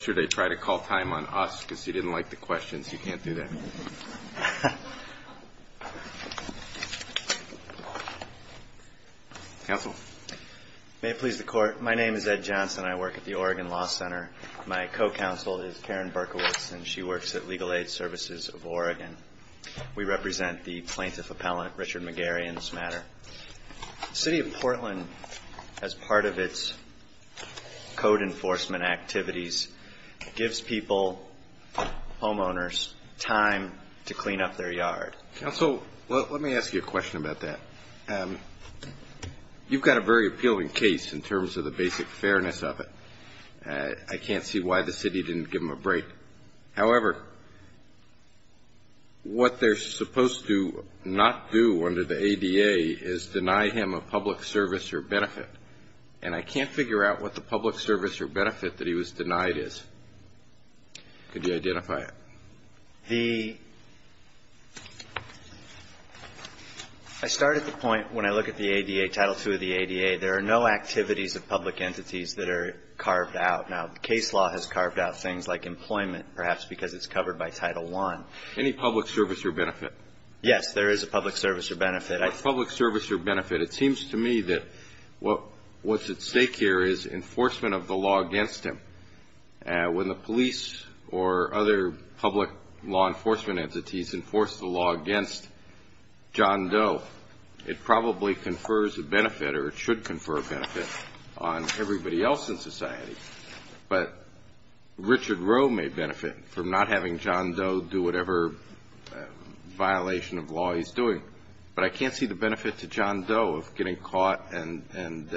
should I try to call time on us because you didn't like the questions you can't do that counsel may it please the court my name is ed johnson i work at the oregon law center my co-counsel is karen berkowitz and she works at legal aid services of oregon we represent the plaintiff appellant richard mcgarry in this matter city of portland as part of its code enforcement activities gives people homeowners time to clean up their yard counsel let me ask you a question about that um you've got a very appealing case in terms of the basic fairness of it i can't see why the city didn't give him a break however what they're denying him a public service or benefit and i can't figure out what the public service or benefit that he was denied is could you identify it the i start at the point when i look at the ada title two of the ada there are no activities of public entities that are carved out now the case law has carved out things like employment perhaps because it's covered by title one any public service or it seems to me that what what's at stake here is enforcement of the law against him when the police or other public law enforcement entities enforce the law against john doe it probably confers a benefit or it should confer a benefit on everybody else in society but richard roe may benefit from not having john doe do whatever violation of law he's doing but i can't see the benefit to john doe of getting caught and and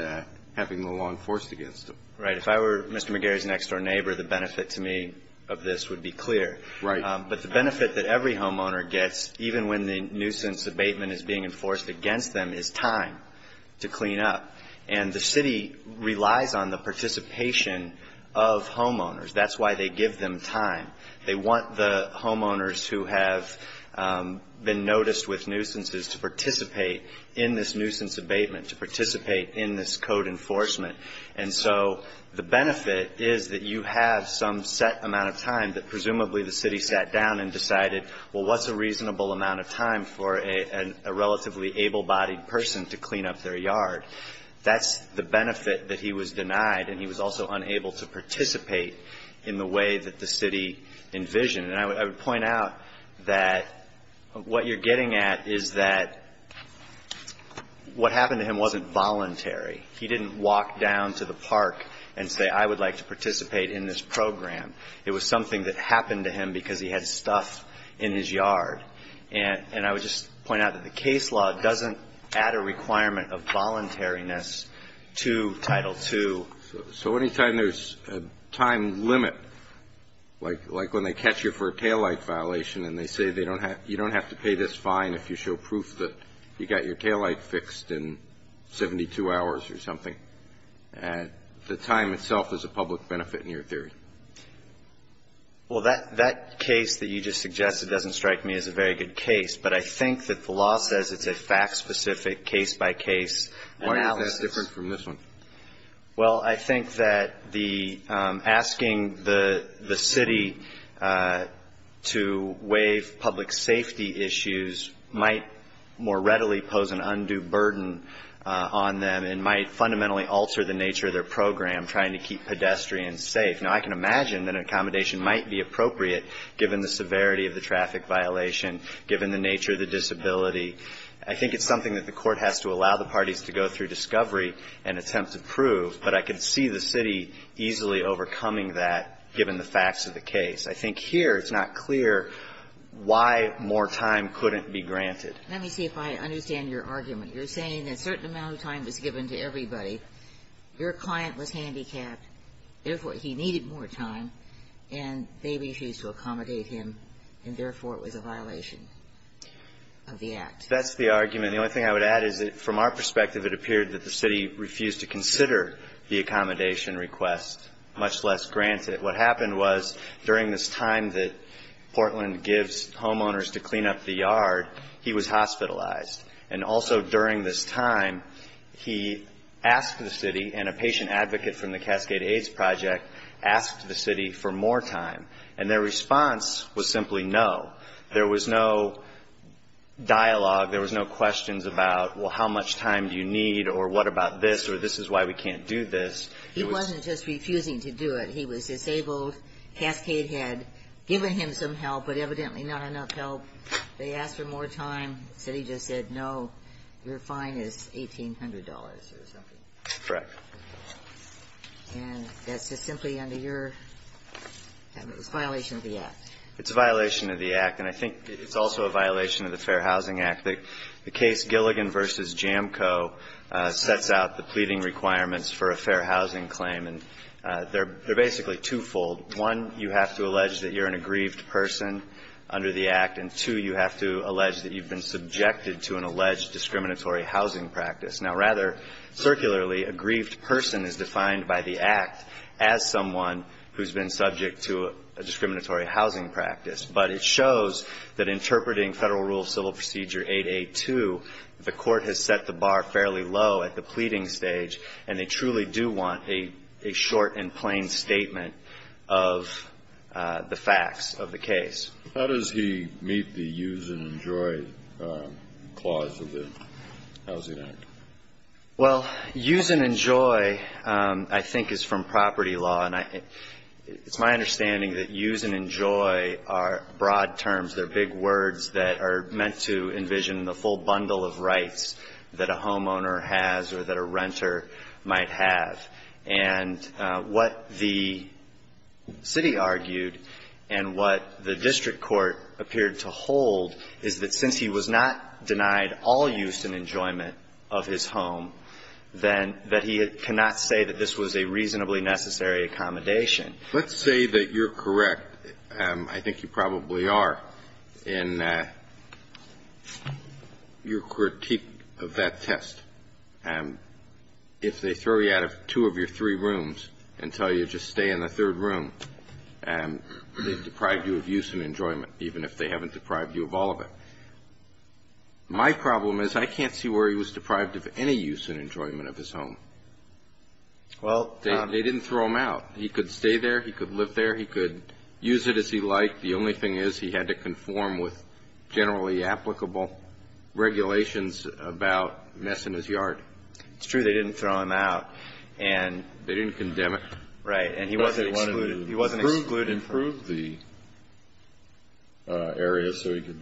having the law enforced against him right if i were mr mcgarry's next door neighbor the benefit to me of this would be clear right but the benefit that every homeowner gets even when the nuisance abatement is being enforced against them is time to clean up and the city relies on the participation of homeowners that's why they give them time they want the homeowners who have been noticed with nuisances to participate in this nuisance abatement to participate in this code enforcement and so the benefit is that you have some set amount of time that presumably the city sat down and decided well what's a reasonable amount of time for a a relatively able-bodied person to clean up their yard that's the benefit that he was denied and he was also unable to participate in the way that the city envisioned and i would point out that what you're getting at is that what happened to him wasn't voluntary he didn't walk down to the park and say i would like to participate in this program it was something that happened to him because he had stuff in his yard and and i would just point out that the case law doesn't add a requirement of voluntariness to title two so anytime there's a time limit like like when they catch you for a taillight violation and they say they don't have you don't have to pay this fine if you show proof that you got your taillight fixed in 72 hours or something and the time itself is a public benefit in your theory well that that case that you just suggested doesn't strike me as a very good case but i think that the law says it's a fact-specific case-by-case analysis different from this one well i think that the um asking the the city uh to waive public safety issues might more readily pose an undue burden uh on them and might fundamentally alter the nature of their program trying to keep pedestrians safe now i can imagine that an accommodation might be appropriate given the severity of the traffic violation given the nature of the disability i think it's something that the court has to allow the parties to go through discovery and attempt to prove but i could see the city easily overcoming that given the facts of the case i think here it's not clear why more time couldn't be granted let me see if i understand your argument you're saying that certain amount of time was given to everybody your client was handicapped therefore he needed more time and they refused to accommodate him and therefore it was a violation of the act that's the argument the only thing i would add is that from our perspective it appeared that the city refused to consider the accommodation request much less grant it what happened was during this time that portland gives homeowners to clean up the yard he was hospitalized and also during this time he asked the city and a patient advocate from the cascade aids project asked the city for more time and their response was simply no there was no dialogue there was no questions about well how much time do you need or what about this or this is why we can't do this he wasn't just refusing to do it he was disabled cascade had given him some help but evidently not enough help they asked for more time said he just said no your fine is eighteen hundred dollars or something correct and that's just simply under your it was violation of the act it's a violation of the act and i think it's also a violation of the fair housing act that the case gilligan versus jamco uh sets out the pleading requirements for a fair housing claim and uh they're they're basically twofold one you have to allege that you're an aggrieved person under the act and two you have to allege that you've been subjected to an alleged discriminatory housing practice now rather circularly aggrieved person is defined by the act as someone who's been subject to a discriminatory housing practice but it shows that interpreting federal rule of civil procedure 882 the court has set the bar fairly low at the pleading stage and they truly do want a a short and plain statement of the facts of the case how does he meet the use and enjoy uh clause of the housing act well use and enjoy um i think is from property law and i it's my understanding that use and enjoy are broad terms they're big words that are meant to envision the full bundle of rights that a homeowner has or that a renter might have and what the city argued and what the district court appeared to hold is that since he was not denied all use and enjoyment of his home then that he had cannot say that this was a reasonably necessary accommodation let's say that you're correct um i think you probably are in uh your critique of that test and if they throw you out of two of your three rooms and tell you just stay in the third room and they've deprived you of use and enjoyment even if they haven't deprived you of all of it my problem is i can't see where he was deprived of any use and enjoyment of his home well they didn't throw him out he could stay there he could live there he could use it as he liked the only thing is he had to conform with generally applicable regulations about mess in his yard it's true they didn't throw him out and they didn't condemn it right and he wasn't excluded he wasn't excluded improve the uh area so he could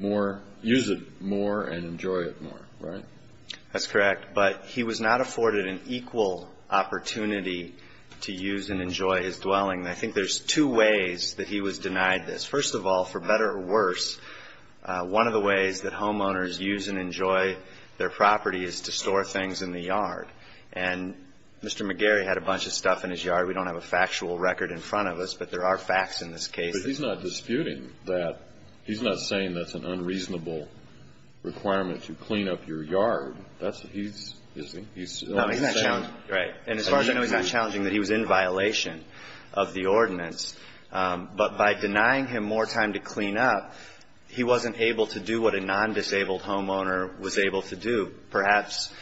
more use it more and equal opportunity to use and enjoy his dwelling i think there's two ways that he was denied this first of all for better or worse one of the ways that homeowners use and enjoy their property is to store things in the yard and mr mcgarry had a bunch of stuff in his yard we don't have a factual record in front of us but there are facts in this case but he's not disputing that he's not saying that's an unreasonable requirement to clean up your yard that's he's busy he's right and as far as i know he's not challenging that he was in violation of the ordinance but by denying him more time to clean up he wasn't able to do what a non-disabled homeowner was able to do perhaps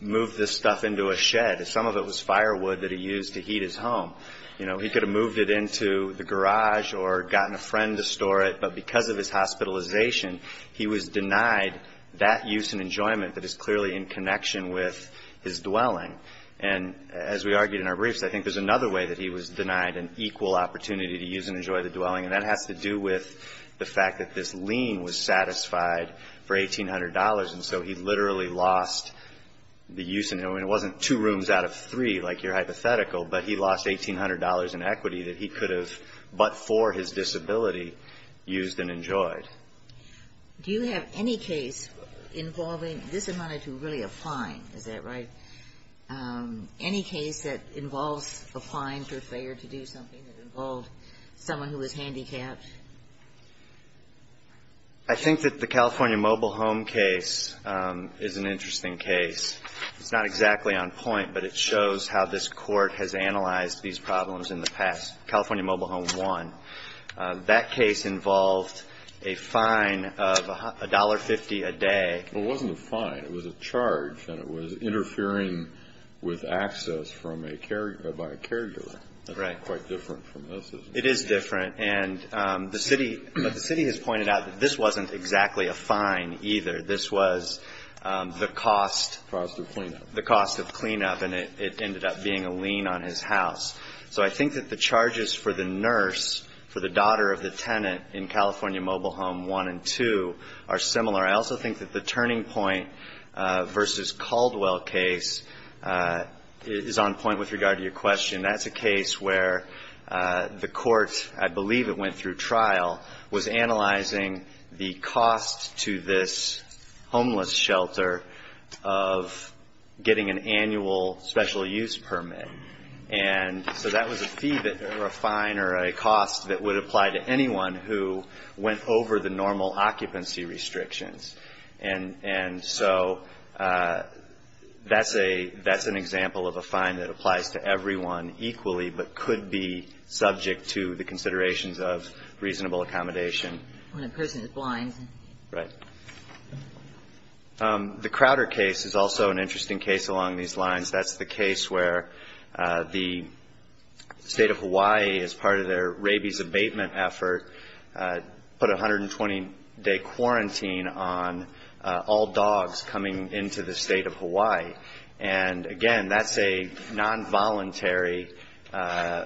move this stuff into a shed some of it was firewood that he used to heat his home you know he could have moved it into the garage or gotten a friend to store it but because of his hospitalization he was denied that use and enjoyment that is clearly in connection with his dwelling and as we argued in our briefs i think there's another way that he was denied an equal opportunity to use and enjoy the dwelling and that has to do with the fact that this lien was satisfied for eighteen hundred dollars and so he literally lost the use and it wasn't two rooms out of three like your hypothetical but he lost eighteen hundred dollars in equity that he enjoyed do you have any case involving this amount of to really a fine is that right any case that involves a fine for failure to do something that involved someone who was handicapped i think that the california mobile home case is an interesting case it's not exactly on point but it shows how this court has analyzed these problems in the past california mobile home one that case involved a fine of a dollar fifty a day it wasn't a fine it was a charge and it was interfering with access from a carrier by a carrier right quite different from this it is different and um the city but the city has pointed out that this wasn't exactly a fine either this was the cost cost of cleanup the cost of cleanup and it ended up being a lien on his house so i think that the charges for the nurse for the daughter of the tenant in california mobile home one and two are similar i also think that the turning point uh versus caldwell case is on point with regard to your question that's a case where the court i believe it went through trial was analyzing the cost to this homeless shelter of getting an annual special use permit and so that was a fee that or a fine or a cost that would apply to anyone who went over the normal occupancy restrictions and and so uh that's a that's an example of a fine that applies to everyone equally but could be subject to the crowder case is also an interesting case along these lines that's the case where the state of hawaii is part of their rabies abatement effort put 120 day quarantine on all dogs coming into the state of hawaii and again that's a non-voluntary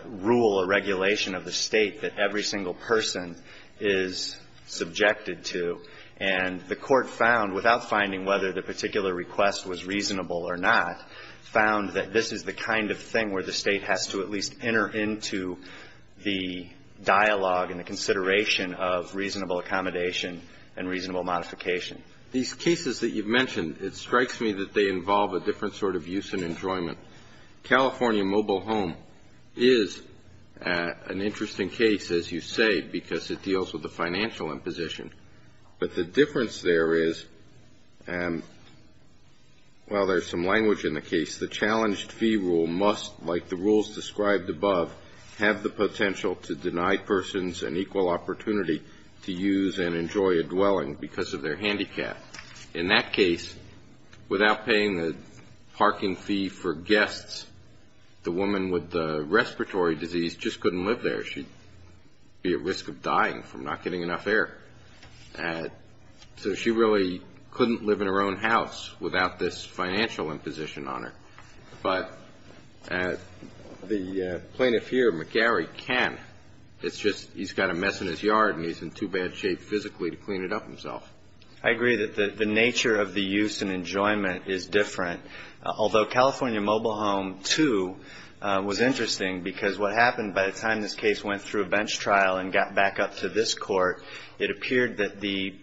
rule or regulation of the state that every single person is subjected to and the court found without finding whether the request was reasonable or not found that this is the kind of thing where the state has to at least enter into the dialogue and the consideration of reasonable accommodation and reasonable modification these cases that you've mentioned it strikes me that they involve a different sort of use and enjoyment california mobile home is an interesting case as you say because it deals with well there's some language in the case the challenged fee rule must like the rules described above have the potential to deny persons an equal opportunity to use and enjoy a dwelling because of their handicap in that case without paying the parking fee for guests the woman with the respiratory disease just couldn't live there she'd be at risk of dying from not getting enough and so she really couldn't live in her own house without this financial imposition on her but the plaintiff here mcgarry can it's just he's got a mess in his yard and he's in too bad shape physically to clean it up himself i agree that the the nature of the use and enjoyment is different although california mobile home 2 was interesting because what happened by the time this case went through a bench trial and got back up to this court it appeared that the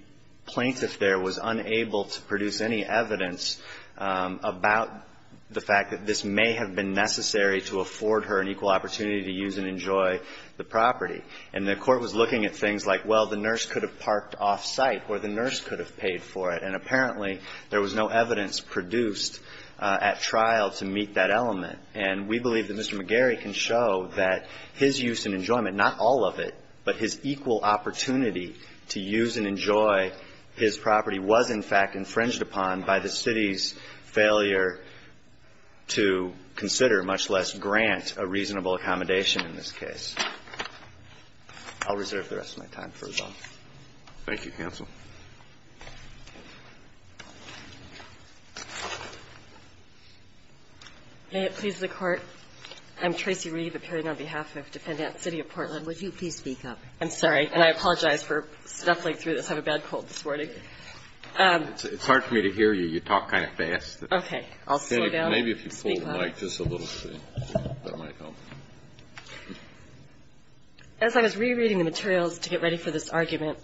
plaintiff there was unable to produce any evidence about the fact that this may have been necessary to afford her an equal opportunity to use and enjoy the property and the court was looking at things like well the nurse could have parked off site or the nurse could have paid for it and apparently there was no evidence produced at trial to meet that element and we believe that mr mcgarry can show that his use and enjoyment not all of it but his equal opportunity to use and enjoy his property was in fact infringed upon by the city's failure to consider much less grant a reasonable accommodation in this case i'll reserve the rest of my time for as well thank you counsel may it please the court i'm tracy reed appearing on behalf of defendant city of portland would you please speak up i'm sorry and i apologize for stuffing through this i have a bad cold this morning um it's hard for me to hear you you talk kind of fast okay i'll slow down maybe if you pull the mic just a little bit that might help as i was rereading the materials to get ready for this argument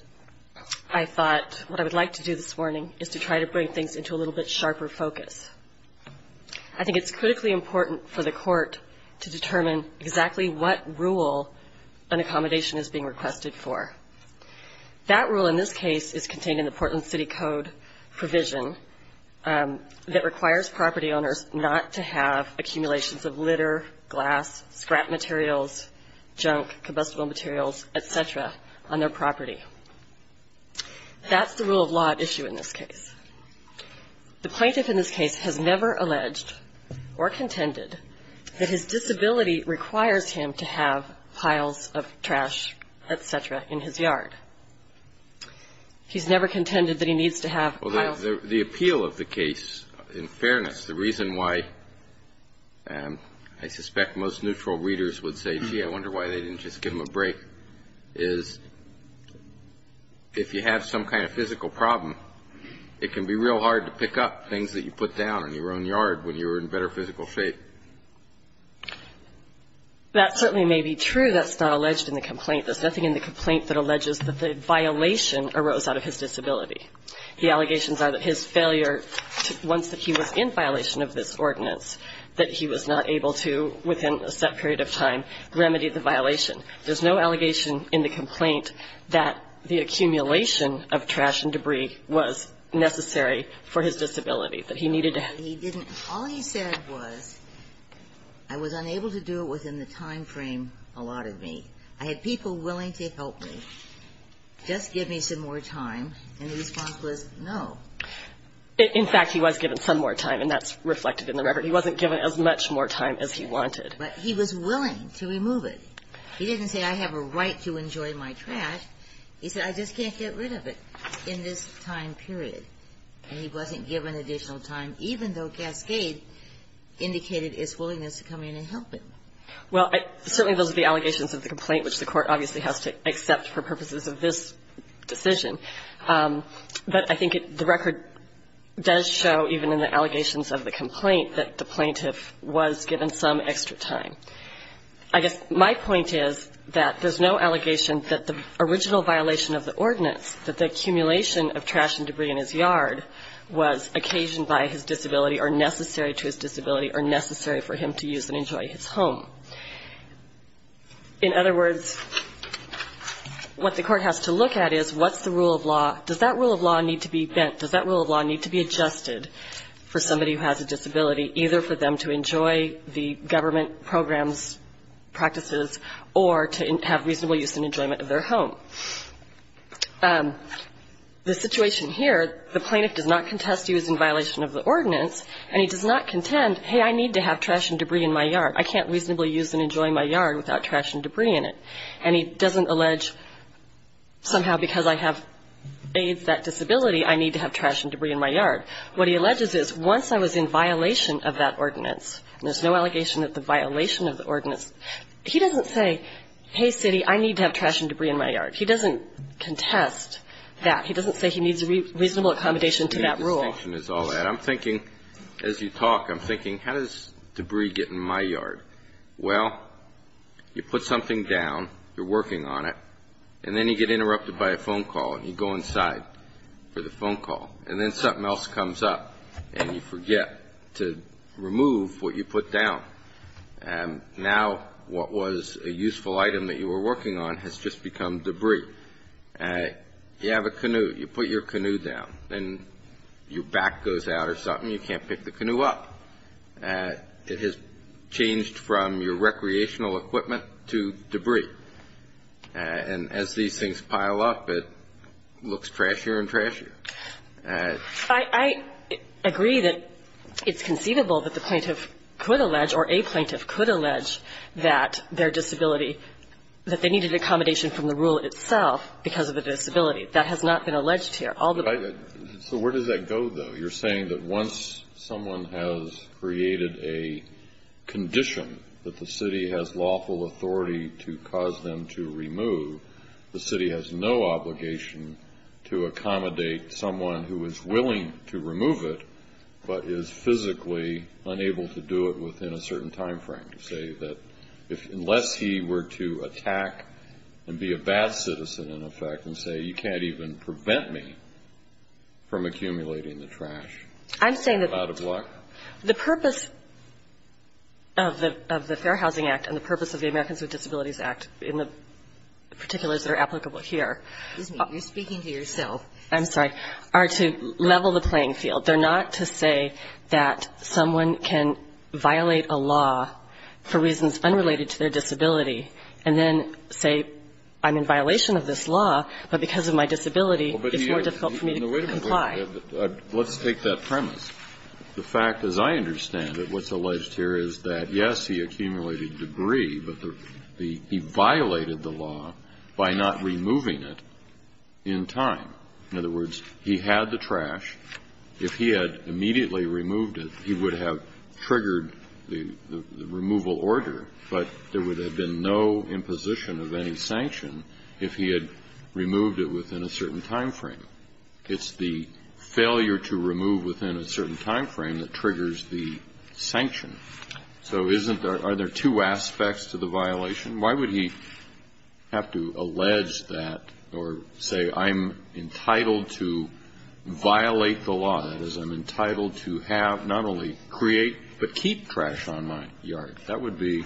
i thought what i would like to do this morning is to try to bring things into a little bit sharper focus i think it's critically important for the court to determine exactly what rule an accommodation is being requested for that rule in this case is contained in the portland city code provision that requires property owners not to have accumulations of litter glass scrap materials junk combustible materials etc on their property that's the rule of law issue in this case the plaintiff in this case has never alleged or contended that his disability requires him to have piles of trash etc in his yard he's never contended that he needs to have the appeal of the case in fairness the i suspect most neutral readers would say gee i wonder why they didn't just give him a break is if you have some kind of physical problem it can be real hard to pick up things that you put down in your own yard when you're in better physical shape that certainly may be true that's not alleged in the complaint there's nothing in the complaint that alleges that the violation arose out of his disability the allegations are that his failure once that he was in violation of this ordinance that he was not able to within a set period of time remedy the violation there's no allegation in the complaint that the accumulation of trash and debris was necessary for his disability that he needed to he didn't all he said was i was unable to do it within the time frame allotted me i had people willing to help me just give me some more time and the response was no in fact he was given some more time and that's reflected in the record he wasn't given as much more time as he wanted but he was willing to remove it he didn't say i have a right to enjoy my trash he said i just can't get rid of it in this time period and he wasn't given additional time even though cascade indicated his willingness to come in and help him well certainly those are the allegations of the complaint which the court obviously has to accept for purposes of this decision but i think the record does show even in the allegations of the complaint that the plaintiff was given some extra time i guess my point is that there's no allegation that the original violation of the ordinance that the accumulation of trash and debris in his yard was occasioned by his disability or necessary to his disability or necessary for him to use and enjoy his home in other words what the court has to look at is what's the rule of law does that rule of law need to be bent does that rule of law need to be adjusted for somebody who has a disability either for them to enjoy the government programs practices or to have reasonable use and enjoyment of their home um the situation here the plaintiff does not contest use in violation of the ordinance and he does not contend hey i need to have trash and debris in my yard i can't reasonably use it and enjoy my yard without trash and debris in it and he doesn't allege somehow because i have aids that disability i need to have trash and debris in my yard what he alleges is once i was in violation of that ordinance there's no allegation that the violation of the ordinance he doesn't say hey city i need to have trash and debris in my yard he doesn't contest that he doesn't say he needs a reasonable accommodation to that rule i'm thinking as you talk i'm thinking how does debris get in my yard well you put something down you're working on it and then you get interrupted by a phone call and you go inside for the phone call and then something else comes up and you forget to remove what you put down and now what was a useful item that you were working on has just become debris uh you have a canoe you put your canoe down and your back goes out or something you can't pick the canoe up uh it has changed from your recreational equipment to debris and as these things pile up it looks trashier and trashier uh i i agree that it's conceivable that the plaintiff could allege or a plaintiff could allege that their disability that they needed accommodation from the rule itself because of the disability that has not been alleged here although so where does that go though you're saying that once someone has created a condition that the city has lawful authority to cause them to remove the city has no obligation to accommodate someone who is willing to remove it but is physically unable to do it within a certain time frame to say that if unless he were to attack and be a bad citizen in effect and say you can't even prevent me from accumulating the trash i'm saying that out of luck the purpose of the of the fair housing act and the purpose of the americans with disabilities act in the particulars that are applicable here you're speaking to yourself i'm sorry are to level the playing field they're not to say that someone can violate a law for reasons unrelated to their disability and then say i'm in violation of this law but because of my disability it's more difficult for me to comply let's take that premise the fact as i understand that what's alleged here is that yes he accumulated debris but the he violated the law by not removing it in time in other words he had the trash if he had immediately removed it he would have triggered the removal order but there would have been no imposition of any sanction if he had removed it within a certain time frame it's the failure to remove within a certain time frame that triggers the sanction so isn't there are there two aspects to the violation why would he have to allege that or say i'm entitled to violate the law that is i'm entitled to have not only create but keep trash on my yard that would be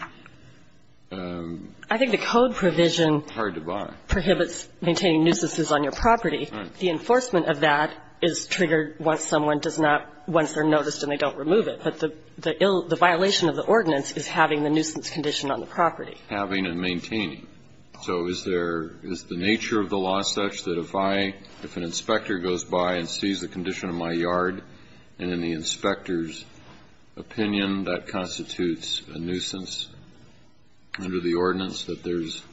um i think the code provision hard to buy prohibits maintaining nuisances on your property the enforcement of that is triggered once someone does not once they're noticed and they don't remove it but the the ill the violation of the ordinance is having the nuisance condition on the property having and maintaining so is there is the nature of the law such that if i if an inspector goes by and sees the condition of my yard and in the inspector's opinion that constitutes a nuisance under the ordinance that there's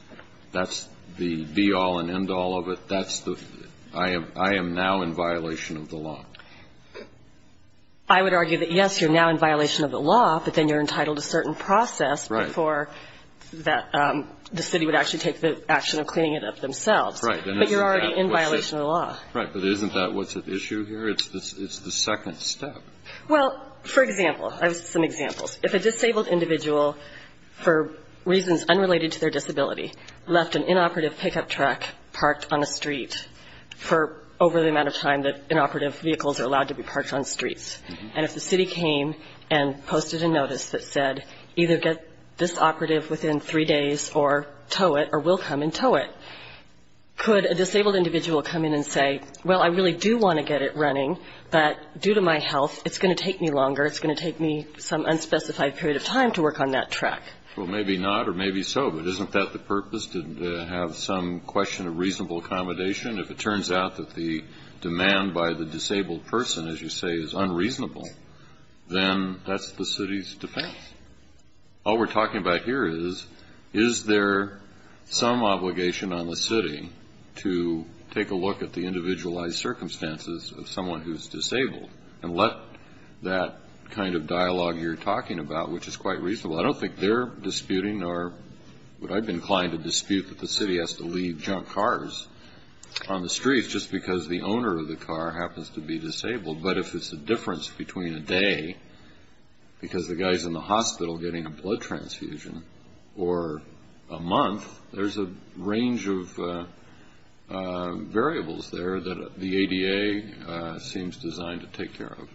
that's the be all and end all of it that's the i am i am now in violation of the law i would argue that yes you're now in violation of the law but then you're entitled to certain process before that um the city would actually take the right but you're already in violation of the law right but isn't that what's at issue here it's this it's the second step well for example i have some examples if a disabled individual for reasons unrelated to their disability left an inoperative pickup truck parked on a street for over the amount of time that inoperative vehicles are allowed to be parked on streets and if the city came and posted a notice that said either get this operative within three days or or will come and tow it could a disabled individual come in and say well i really do want to get it running but due to my health it's going to take me longer it's going to take me some unspecified period of time to work on that track well maybe not or maybe so but isn't that the purpose didn't have some question of reasonable accommodation if it turns out that the demand by the disabled person as you say is unreasonable then that's the city's defense all we're talking about here is there some obligation on the city to take a look at the individualized circumstances of someone who's disabled and let that kind of dialogue you're talking about which is quite reasonable i don't think they're disputing or would i be inclined to dispute that the city has to leave junk cars on the streets just because the owner of the car happens to be disabled but if it's a difference between a day because the guy's in the hospital getting a blood transfusion or a month there's a range of variables there that the ada seems designed to take care of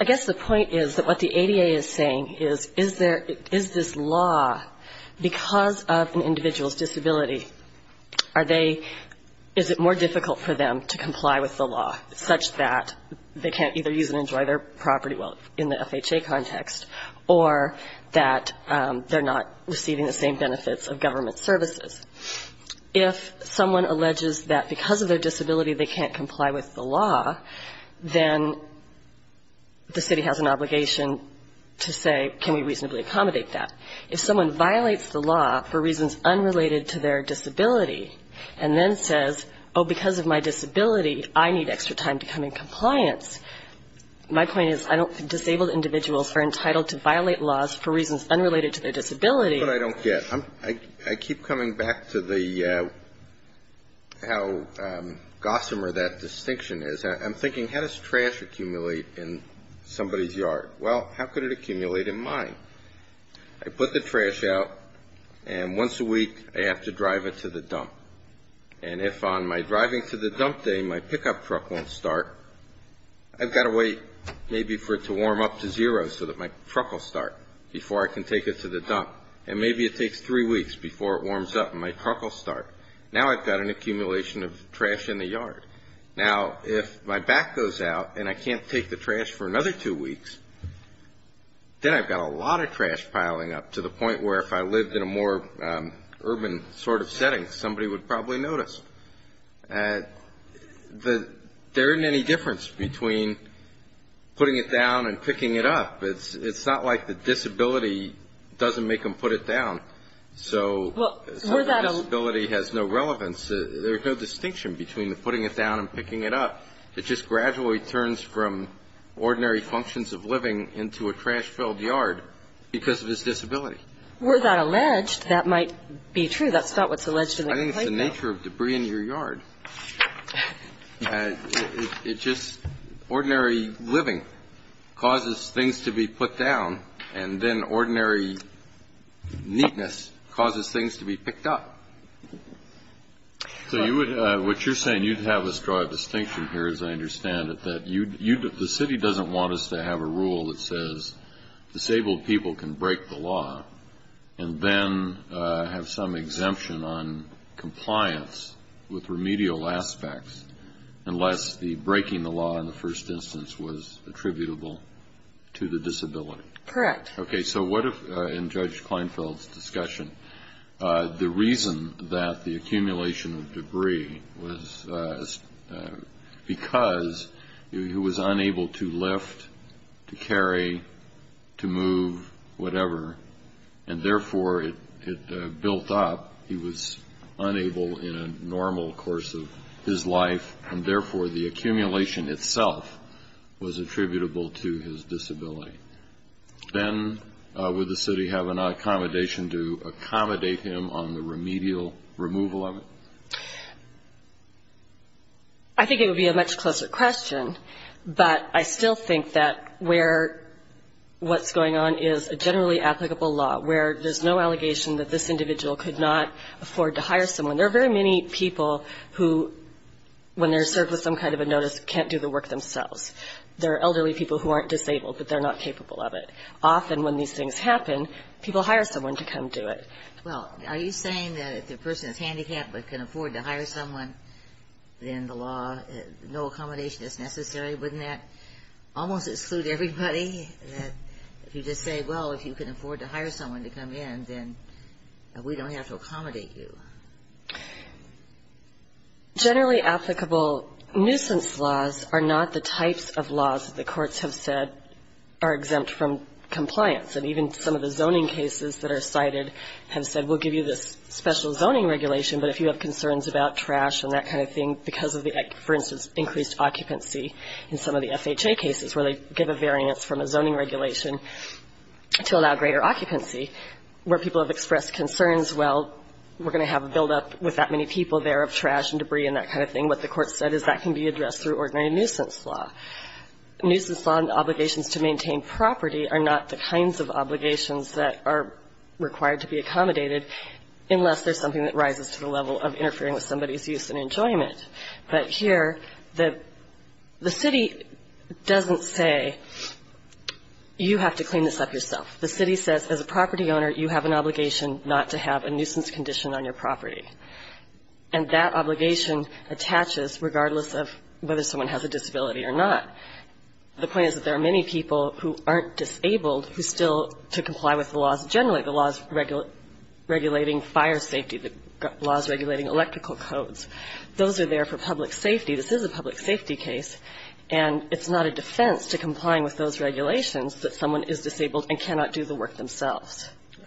i guess the point is that what the ada is saying is is there is this law because of an individual's disability are they is it more difficult for them to comply with the law such that they can't either use and enjoy their property wealth in the fha context or that they're not receiving the same benefits of government services if someone alleges that because of their disability they can't comply with the law then the city has an obligation to say can we reasonably accommodate that if someone violates the law for reasons unrelated to their disability and then says oh because of my compliance my point is i don't disabled individuals are entitled to violate laws for reasons unrelated to their disability but i don't get i keep coming back to the how gossamer that distinction is i'm thinking how does trash accumulate in somebody's yard well how could it accumulate in mine i put the trash out and once a week i have to drive it to the dump and if on my driving to the dump day my pickup truck won't start i've got to wait maybe for it to warm up to zero so that my truck will start before i can take it to the dump and maybe it takes three weeks before it warms up and my truck will start now i've got an accumulation of trash in the yard now if my back goes out and i can't take the trash for another two weeks then i've got a lot of trash piling up to the point where if i lived in a more urban sort of setting somebody would probably notice that there isn't any difference between putting it down and picking it up it's it's not like the disability doesn't make them put it down so disability has no relevance there's no distinction between the putting it down and picking it up it just gradually turns from ordinary functions of living into a trash filled yard because of his disability were that alleged that might be true that's not what's alleged i think it's the nature of debris in your yard it's just ordinary living causes things to be put down and then ordinary neatness causes things to be picked up so you would uh what you're saying you'd have us draw a distinction here as i rule that says disabled people can break the law and then have some exemption on compliance with remedial aspects unless the breaking the law in the first instance was attributable to the disability correct okay so what if in judge kleinfeld's discussion the reason that the accumulation of debris was because he was unable to lift to carry to move whatever and therefore it it built up he was unable in a normal course of his life and therefore the accumulation itself was attributable to his disability then would the city have an accommodation to accommodate him on the remedial removal of it i think it would be a much closer question but i still think that where what's going on is a generally applicable law where there's no allegation that this individual could not afford to hire someone there are very many people who when they're served with some kind of a notice can't do the work themselves there are elderly people who aren't disabled but they're not capable of it often when these things happen people hire someone to come do it well are you saying that if the person is handicapped but can afford to hire someone then the law no accommodation is necessary wouldn't that almost exclude everybody that if you just say well if you can afford to hire someone to come in then we don't have to accommodate you generally applicable nuisance laws are not the types of laws that the courts have said are exempt from compliance and even some of the zoning cases that are cited have said we'll give you this special zoning regulation but if you have concerns about trash and that kind of thing because of the for instance increased occupancy in some of the fha cases where they give a variance from a zoning regulation to allow greater occupancy where people have expressed concerns well we're going to have a buildup with that many people there of trash and debris and that kind of thing what the court said is that can be addressed through ordinary nuisance law nuisance law and obligations to maintain property are not the kinds of obligations that are required to be accommodated unless there's something that rises to the level of interfering with somebody's use and enjoyment but here the the city doesn't say you have to clean this up yourself the city says as a property owner you have an obligation not to have a nuisance condition on your property and that obligation attaches regardless of whether someone has a disability or not the point is that there are many people who aren't disabled who still to comply with the laws generally the laws regulate regulating fire safety the laws regulating electrical codes those are there for public safety this is a public safety case and it's not a defense to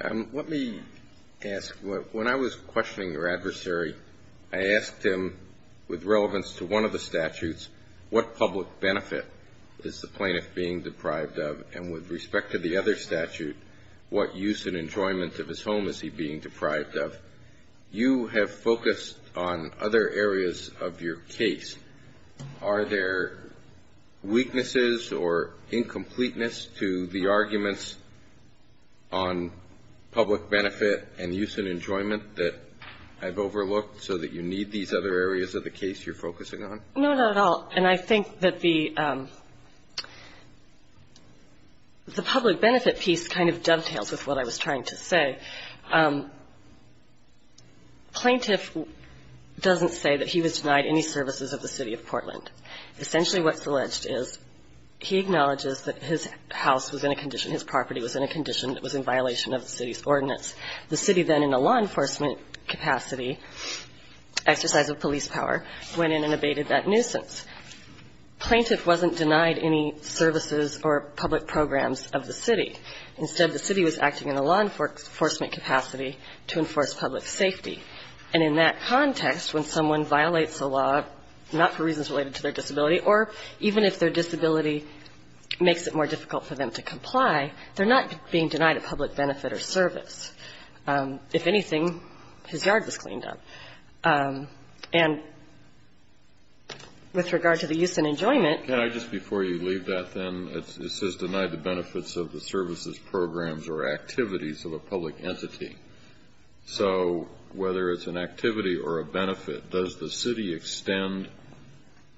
um let me ask what when i was questioning your adversary i asked him with relevance to one of the statutes what public benefit is the plaintiff being deprived of and with respect to the other statute what use and enjoyment of his home is he being deprived of you have focused on other areas of your case are there weaknesses or incompleteness to the arguments on public benefit and use and enjoyment that i've overlooked so that you need these other areas of the case you're focusing on no not at all and i think that the um the public benefit piece kind of dovetails with what i was services of the city of portland essentially what's alleged is he acknowledges that his house was in a condition his property was in a condition that was in violation of the city's ordinance the city then in a law enforcement capacity exercise of police power went in and abated that nuisance plaintiff wasn't denied any services or public programs of the city instead the city was acting in a law enforcement capacity to enforce public safety and in that context when someone violates the law not for reasons related to their disability or even if their disability makes it more difficult for them to comply they're not being denied a public benefit or service if anything his yard was cleaned up and with regard to the use and enjoyment can i just before you leave that then it says denied the benefits of the services programs or activities of a public entity so whether it's an activity or a benefit does the city extend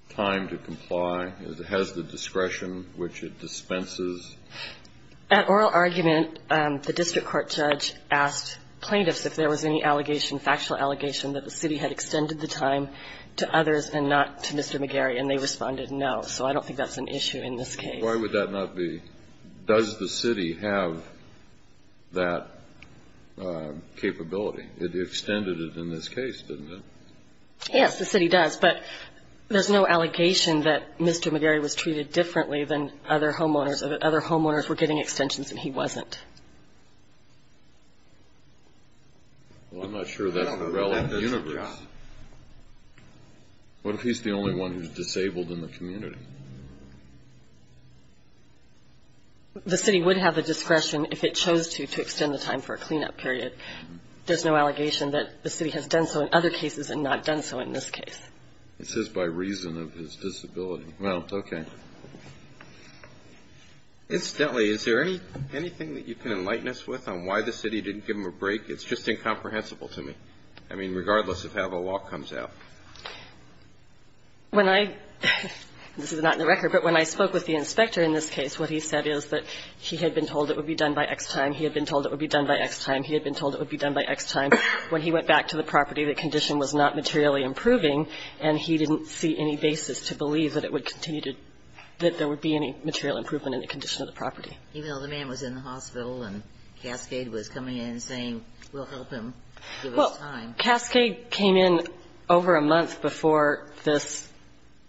time to comply as it has the discretion which it dispenses at oral argument um the district court judge asked plaintiffs if there was any allegation factual allegation that the city had extended the time to others and not to mr mcgarry and they responded no so i don't think that's an issue in this case why would that not be does the city have that capability it extended it in this case didn't it yes the city does but there's no allegation that mr mcgarry was treated differently than other homeowners other homeowners were getting extensions and he wasn't well i'm not sure that's the relevant universe god what if he's the only one who's disabled in the community the city would have the discretion if it chose to to extend the time for a cleanup period there's no allegation that the city has done so in other cases and not done so in this case it says by reason of his disability well okay incidentally is there any anything that you can enlighten us with on why the city didn't give him a break it's just incomprehensible to me i mean regardless of how the law comes out when i this is not in the record but when i spoke with the inspector in this case what he said is that he had been told it would be done by x time he had been told it would be done by x time he had been told it would be done by x time when he went back to the property the condition was not materially improving and he didn't see any basis to believe that it would continue to that there would be any material improvement in the condition of the property even though the man was in the hospital and cascade was coming in saying we'll help him well cascade came in over a month before this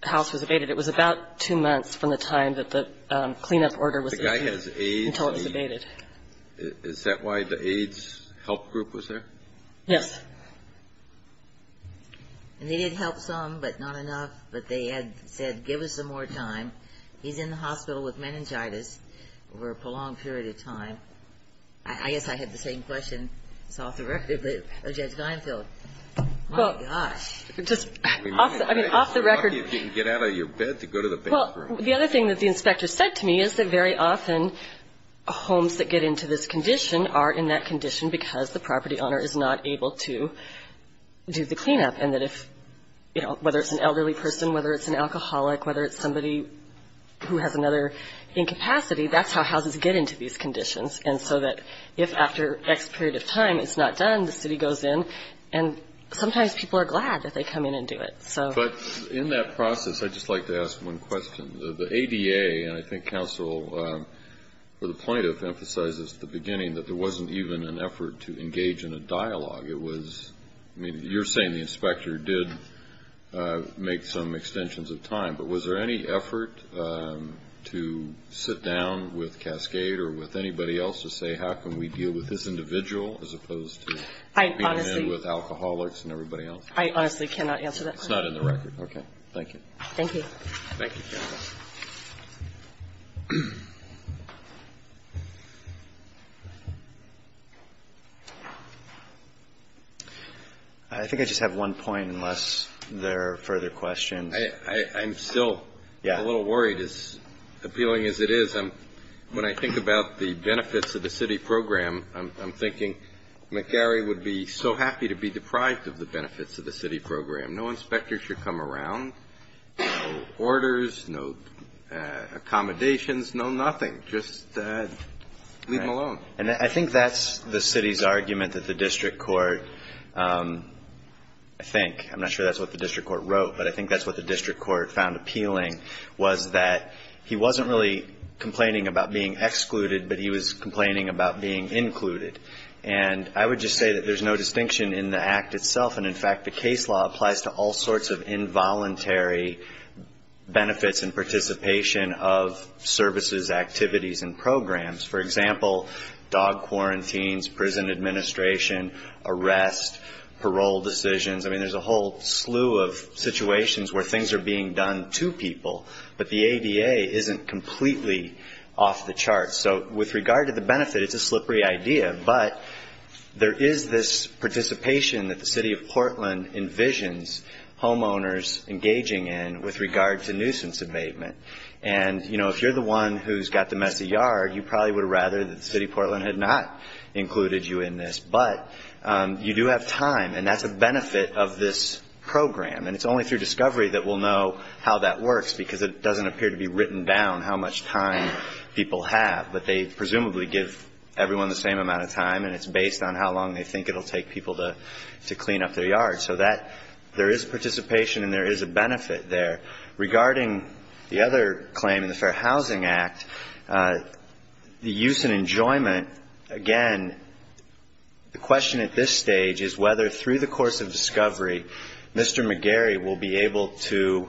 house was abated it was about two months from the time that the cleanup order was the guy has a until it's abated is that why the aids help group was there yes and they did help some but not enough but they had said give us some more time he's in the hospital with meningitis over a prolonged period of time i guess i had the same question it's off the record but judge vinefield oh gosh just i mean off the record you can get out of your bed to go to the bathroom the other thing that the inspector said to me is that very often homes that get into this condition are in that condition because the property owner is not able to do the cleanup and that if you know whether it's an elderly person whether it's an alcoholic whether it's another incapacity that's how houses get into these conditions and so that if after x period of time it's not done the city goes in and sometimes people are glad that they come in and do it so but in that process i just like to ask one question the ada and i think counsel for the plaintiff emphasizes at the beginning that there wasn't even an effort to engage in a dialogue it was i mean you're saying the inspector did make some extensions of time but was there any effort to sit down with cascade or with anybody else to say how can we deal with this individual as opposed to i honestly with alcoholics and everybody else i honestly cannot answer that it's not in the record okay thank you thank you thank you i think i just have one point unless there are further questions i i'm still yeah a little worried as appealing as it is i'm when i think about the benefits of the city program i'm thinking mcgarry would be so happy to be deprived of the benefits of the city program no inspector should come around no orders no accommodations no nothing just uh leave them alone and i think that's the city's argument that the district court um i think i'm not sure that's what the district court wrote but i think that's what the district court found appealing was that he wasn't really complaining about being excluded but he was complaining about being included and i would just say that there's no distinction in the act itself and in fact the case law applies to all involuntary benefits and participation of services activities and programs for example dog quarantines prison administration arrest parole decisions i mean there's a whole slew of situations where things are being done to people but the ada isn't completely off the chart so with regard to the benefit it's a slippery idea but there is this participation that the city of engaging in with regard to nuisance abatement and you know if you're the one who's got the messy yard you probably would rather that city portland had not included you in this but um you do have time and that's a benefit of this program and it's only through discovery that we'll know how that works because it doesn't appear to be written down how much time people have but they presumably give everyone the same amount of time and it's based on how long they think it'll take to clean up their yard so that there is participation and there is a benefit there regarding the other claim in the fair housing act the use and enjoyment again the question at this stage is whether through the course of discovery mr mcgarry will be able to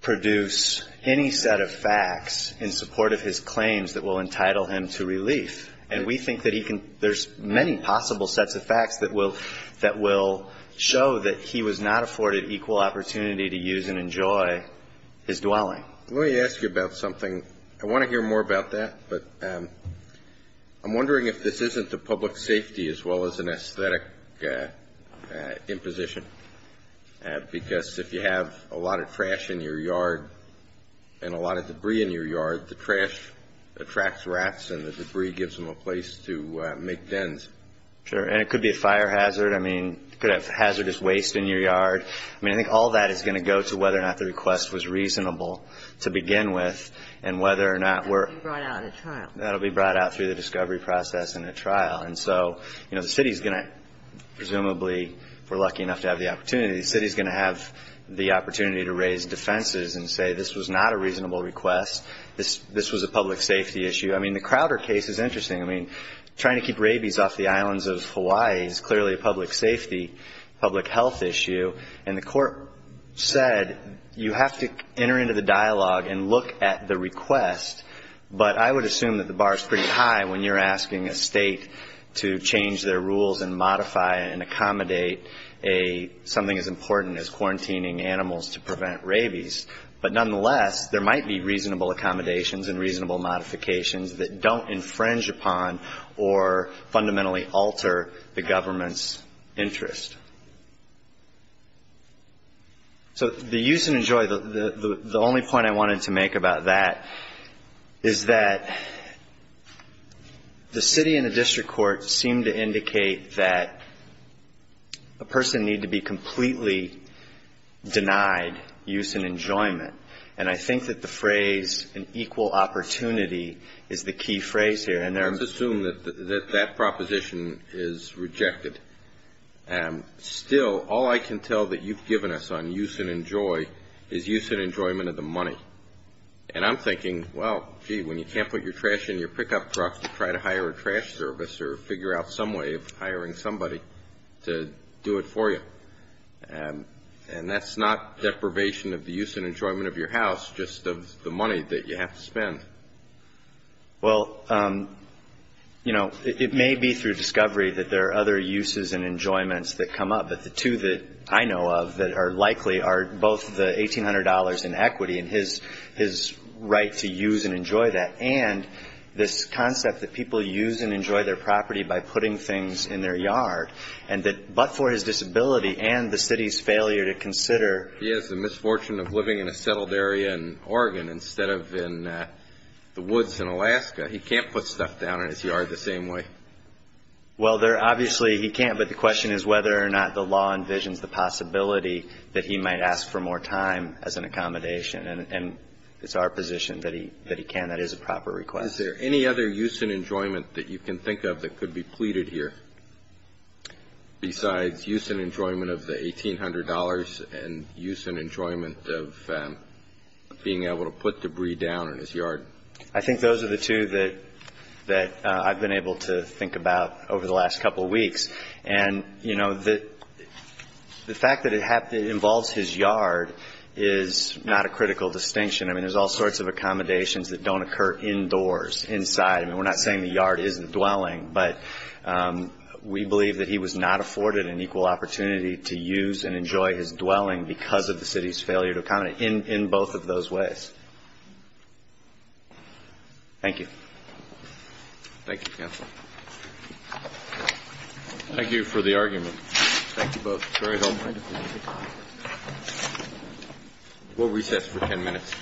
produce any set of facts in support of his claims that will entitle him to relief and we think that he can there's many possible sets of facts that will that will show that he was not afforded equal opportunity to use and enjoy his dwelling let me ask you about something i want to hear more about that but um i'm wondering if this isn't the public safety as well as an aesthetic uh imposition because if you have a lot of trash in your yard and a lot of debris in your yard the trash attracts rats and the debris gives them a place to make dens sure and it could be a fire hazard i mean could have hazardous waste in your yard i mean i think all that is going to go to whether or not the request was reasonable to begin with and whether or not we're brought out of trial that'll be brought out through the discovery process in a trial and so you know the city's gonna presumably if we're lucky enough to have the opportunity the city's going to have the opportunity to raise defenses and say this was not a reasonable request this this was a public safety issue i mean the crowder case is interesting i mean trying to keep rabies off the islands of hawaii is clearly a public safety public health issue and the court said you have to enter into the dialogue and look at the request but i would assume that the bar is pretty high when you're asking a state to change their rules and modify and accommodate a something as important as quarantining animals to prevent rabies but nonetheless there might be reasonable accommodations and reasonable modifications that don't infringe upon or fundamentally alter the government's interest so the use and enjoy the the only point i wanted to make about that is that the city and the district court seem to indicate that a person need to be completely denied use and enjoyment and i think that the phrase an equal opportunity is the key phrase here and let's assume that that proposition is rejected and still all i can tell that you've given us on use and enjoy is use and enjoyment of the money and i'm thinking well gee when you can't put your trash in your pickup truck to try to hire a trash service or figure out some way of hiring somebody to do it for you and and that's not deprivation of the use and enjoyment of your house just of the money that you have to spend well um you know it may be through discovery that there are other uses and enjoyments that come up but the two that i know of that are likely are both the eighteen and this concept that people use and enjoy their property by putting things in their yard and that but for his disability and the city's failure to consider he has the misfortune of living in a settled area in oregon instead of in the woods in alaska he can't put stuff down in his yard the same way well there obviously he can't but the question is whether or not the law envisions the possibility that he might ask for more time as an accommodation and it's our position that he that he can that is a proper request is there any other use and enjoyment that you can think of that could be pleaded here besides use and enjoyment of the eighteen hundred dollars and use and enjoyment of being able to put debris down in his yard i think those are the two that that i've been able to think about over the last couple weeks and you know that the fact that it involves his yard is not a critical distinction i mean there's all sorts of accommodations that don't occur indoors inside i mean we're not saying the yard isn't dwelling but we believe that he was not afforded an equal opportunity to use and enjoy his dwelling because of the city's failure to accommodate in in both of those ways thank you thank you counsel thank you for the argument thank you both very helpful we'll recess for 10 minutes so you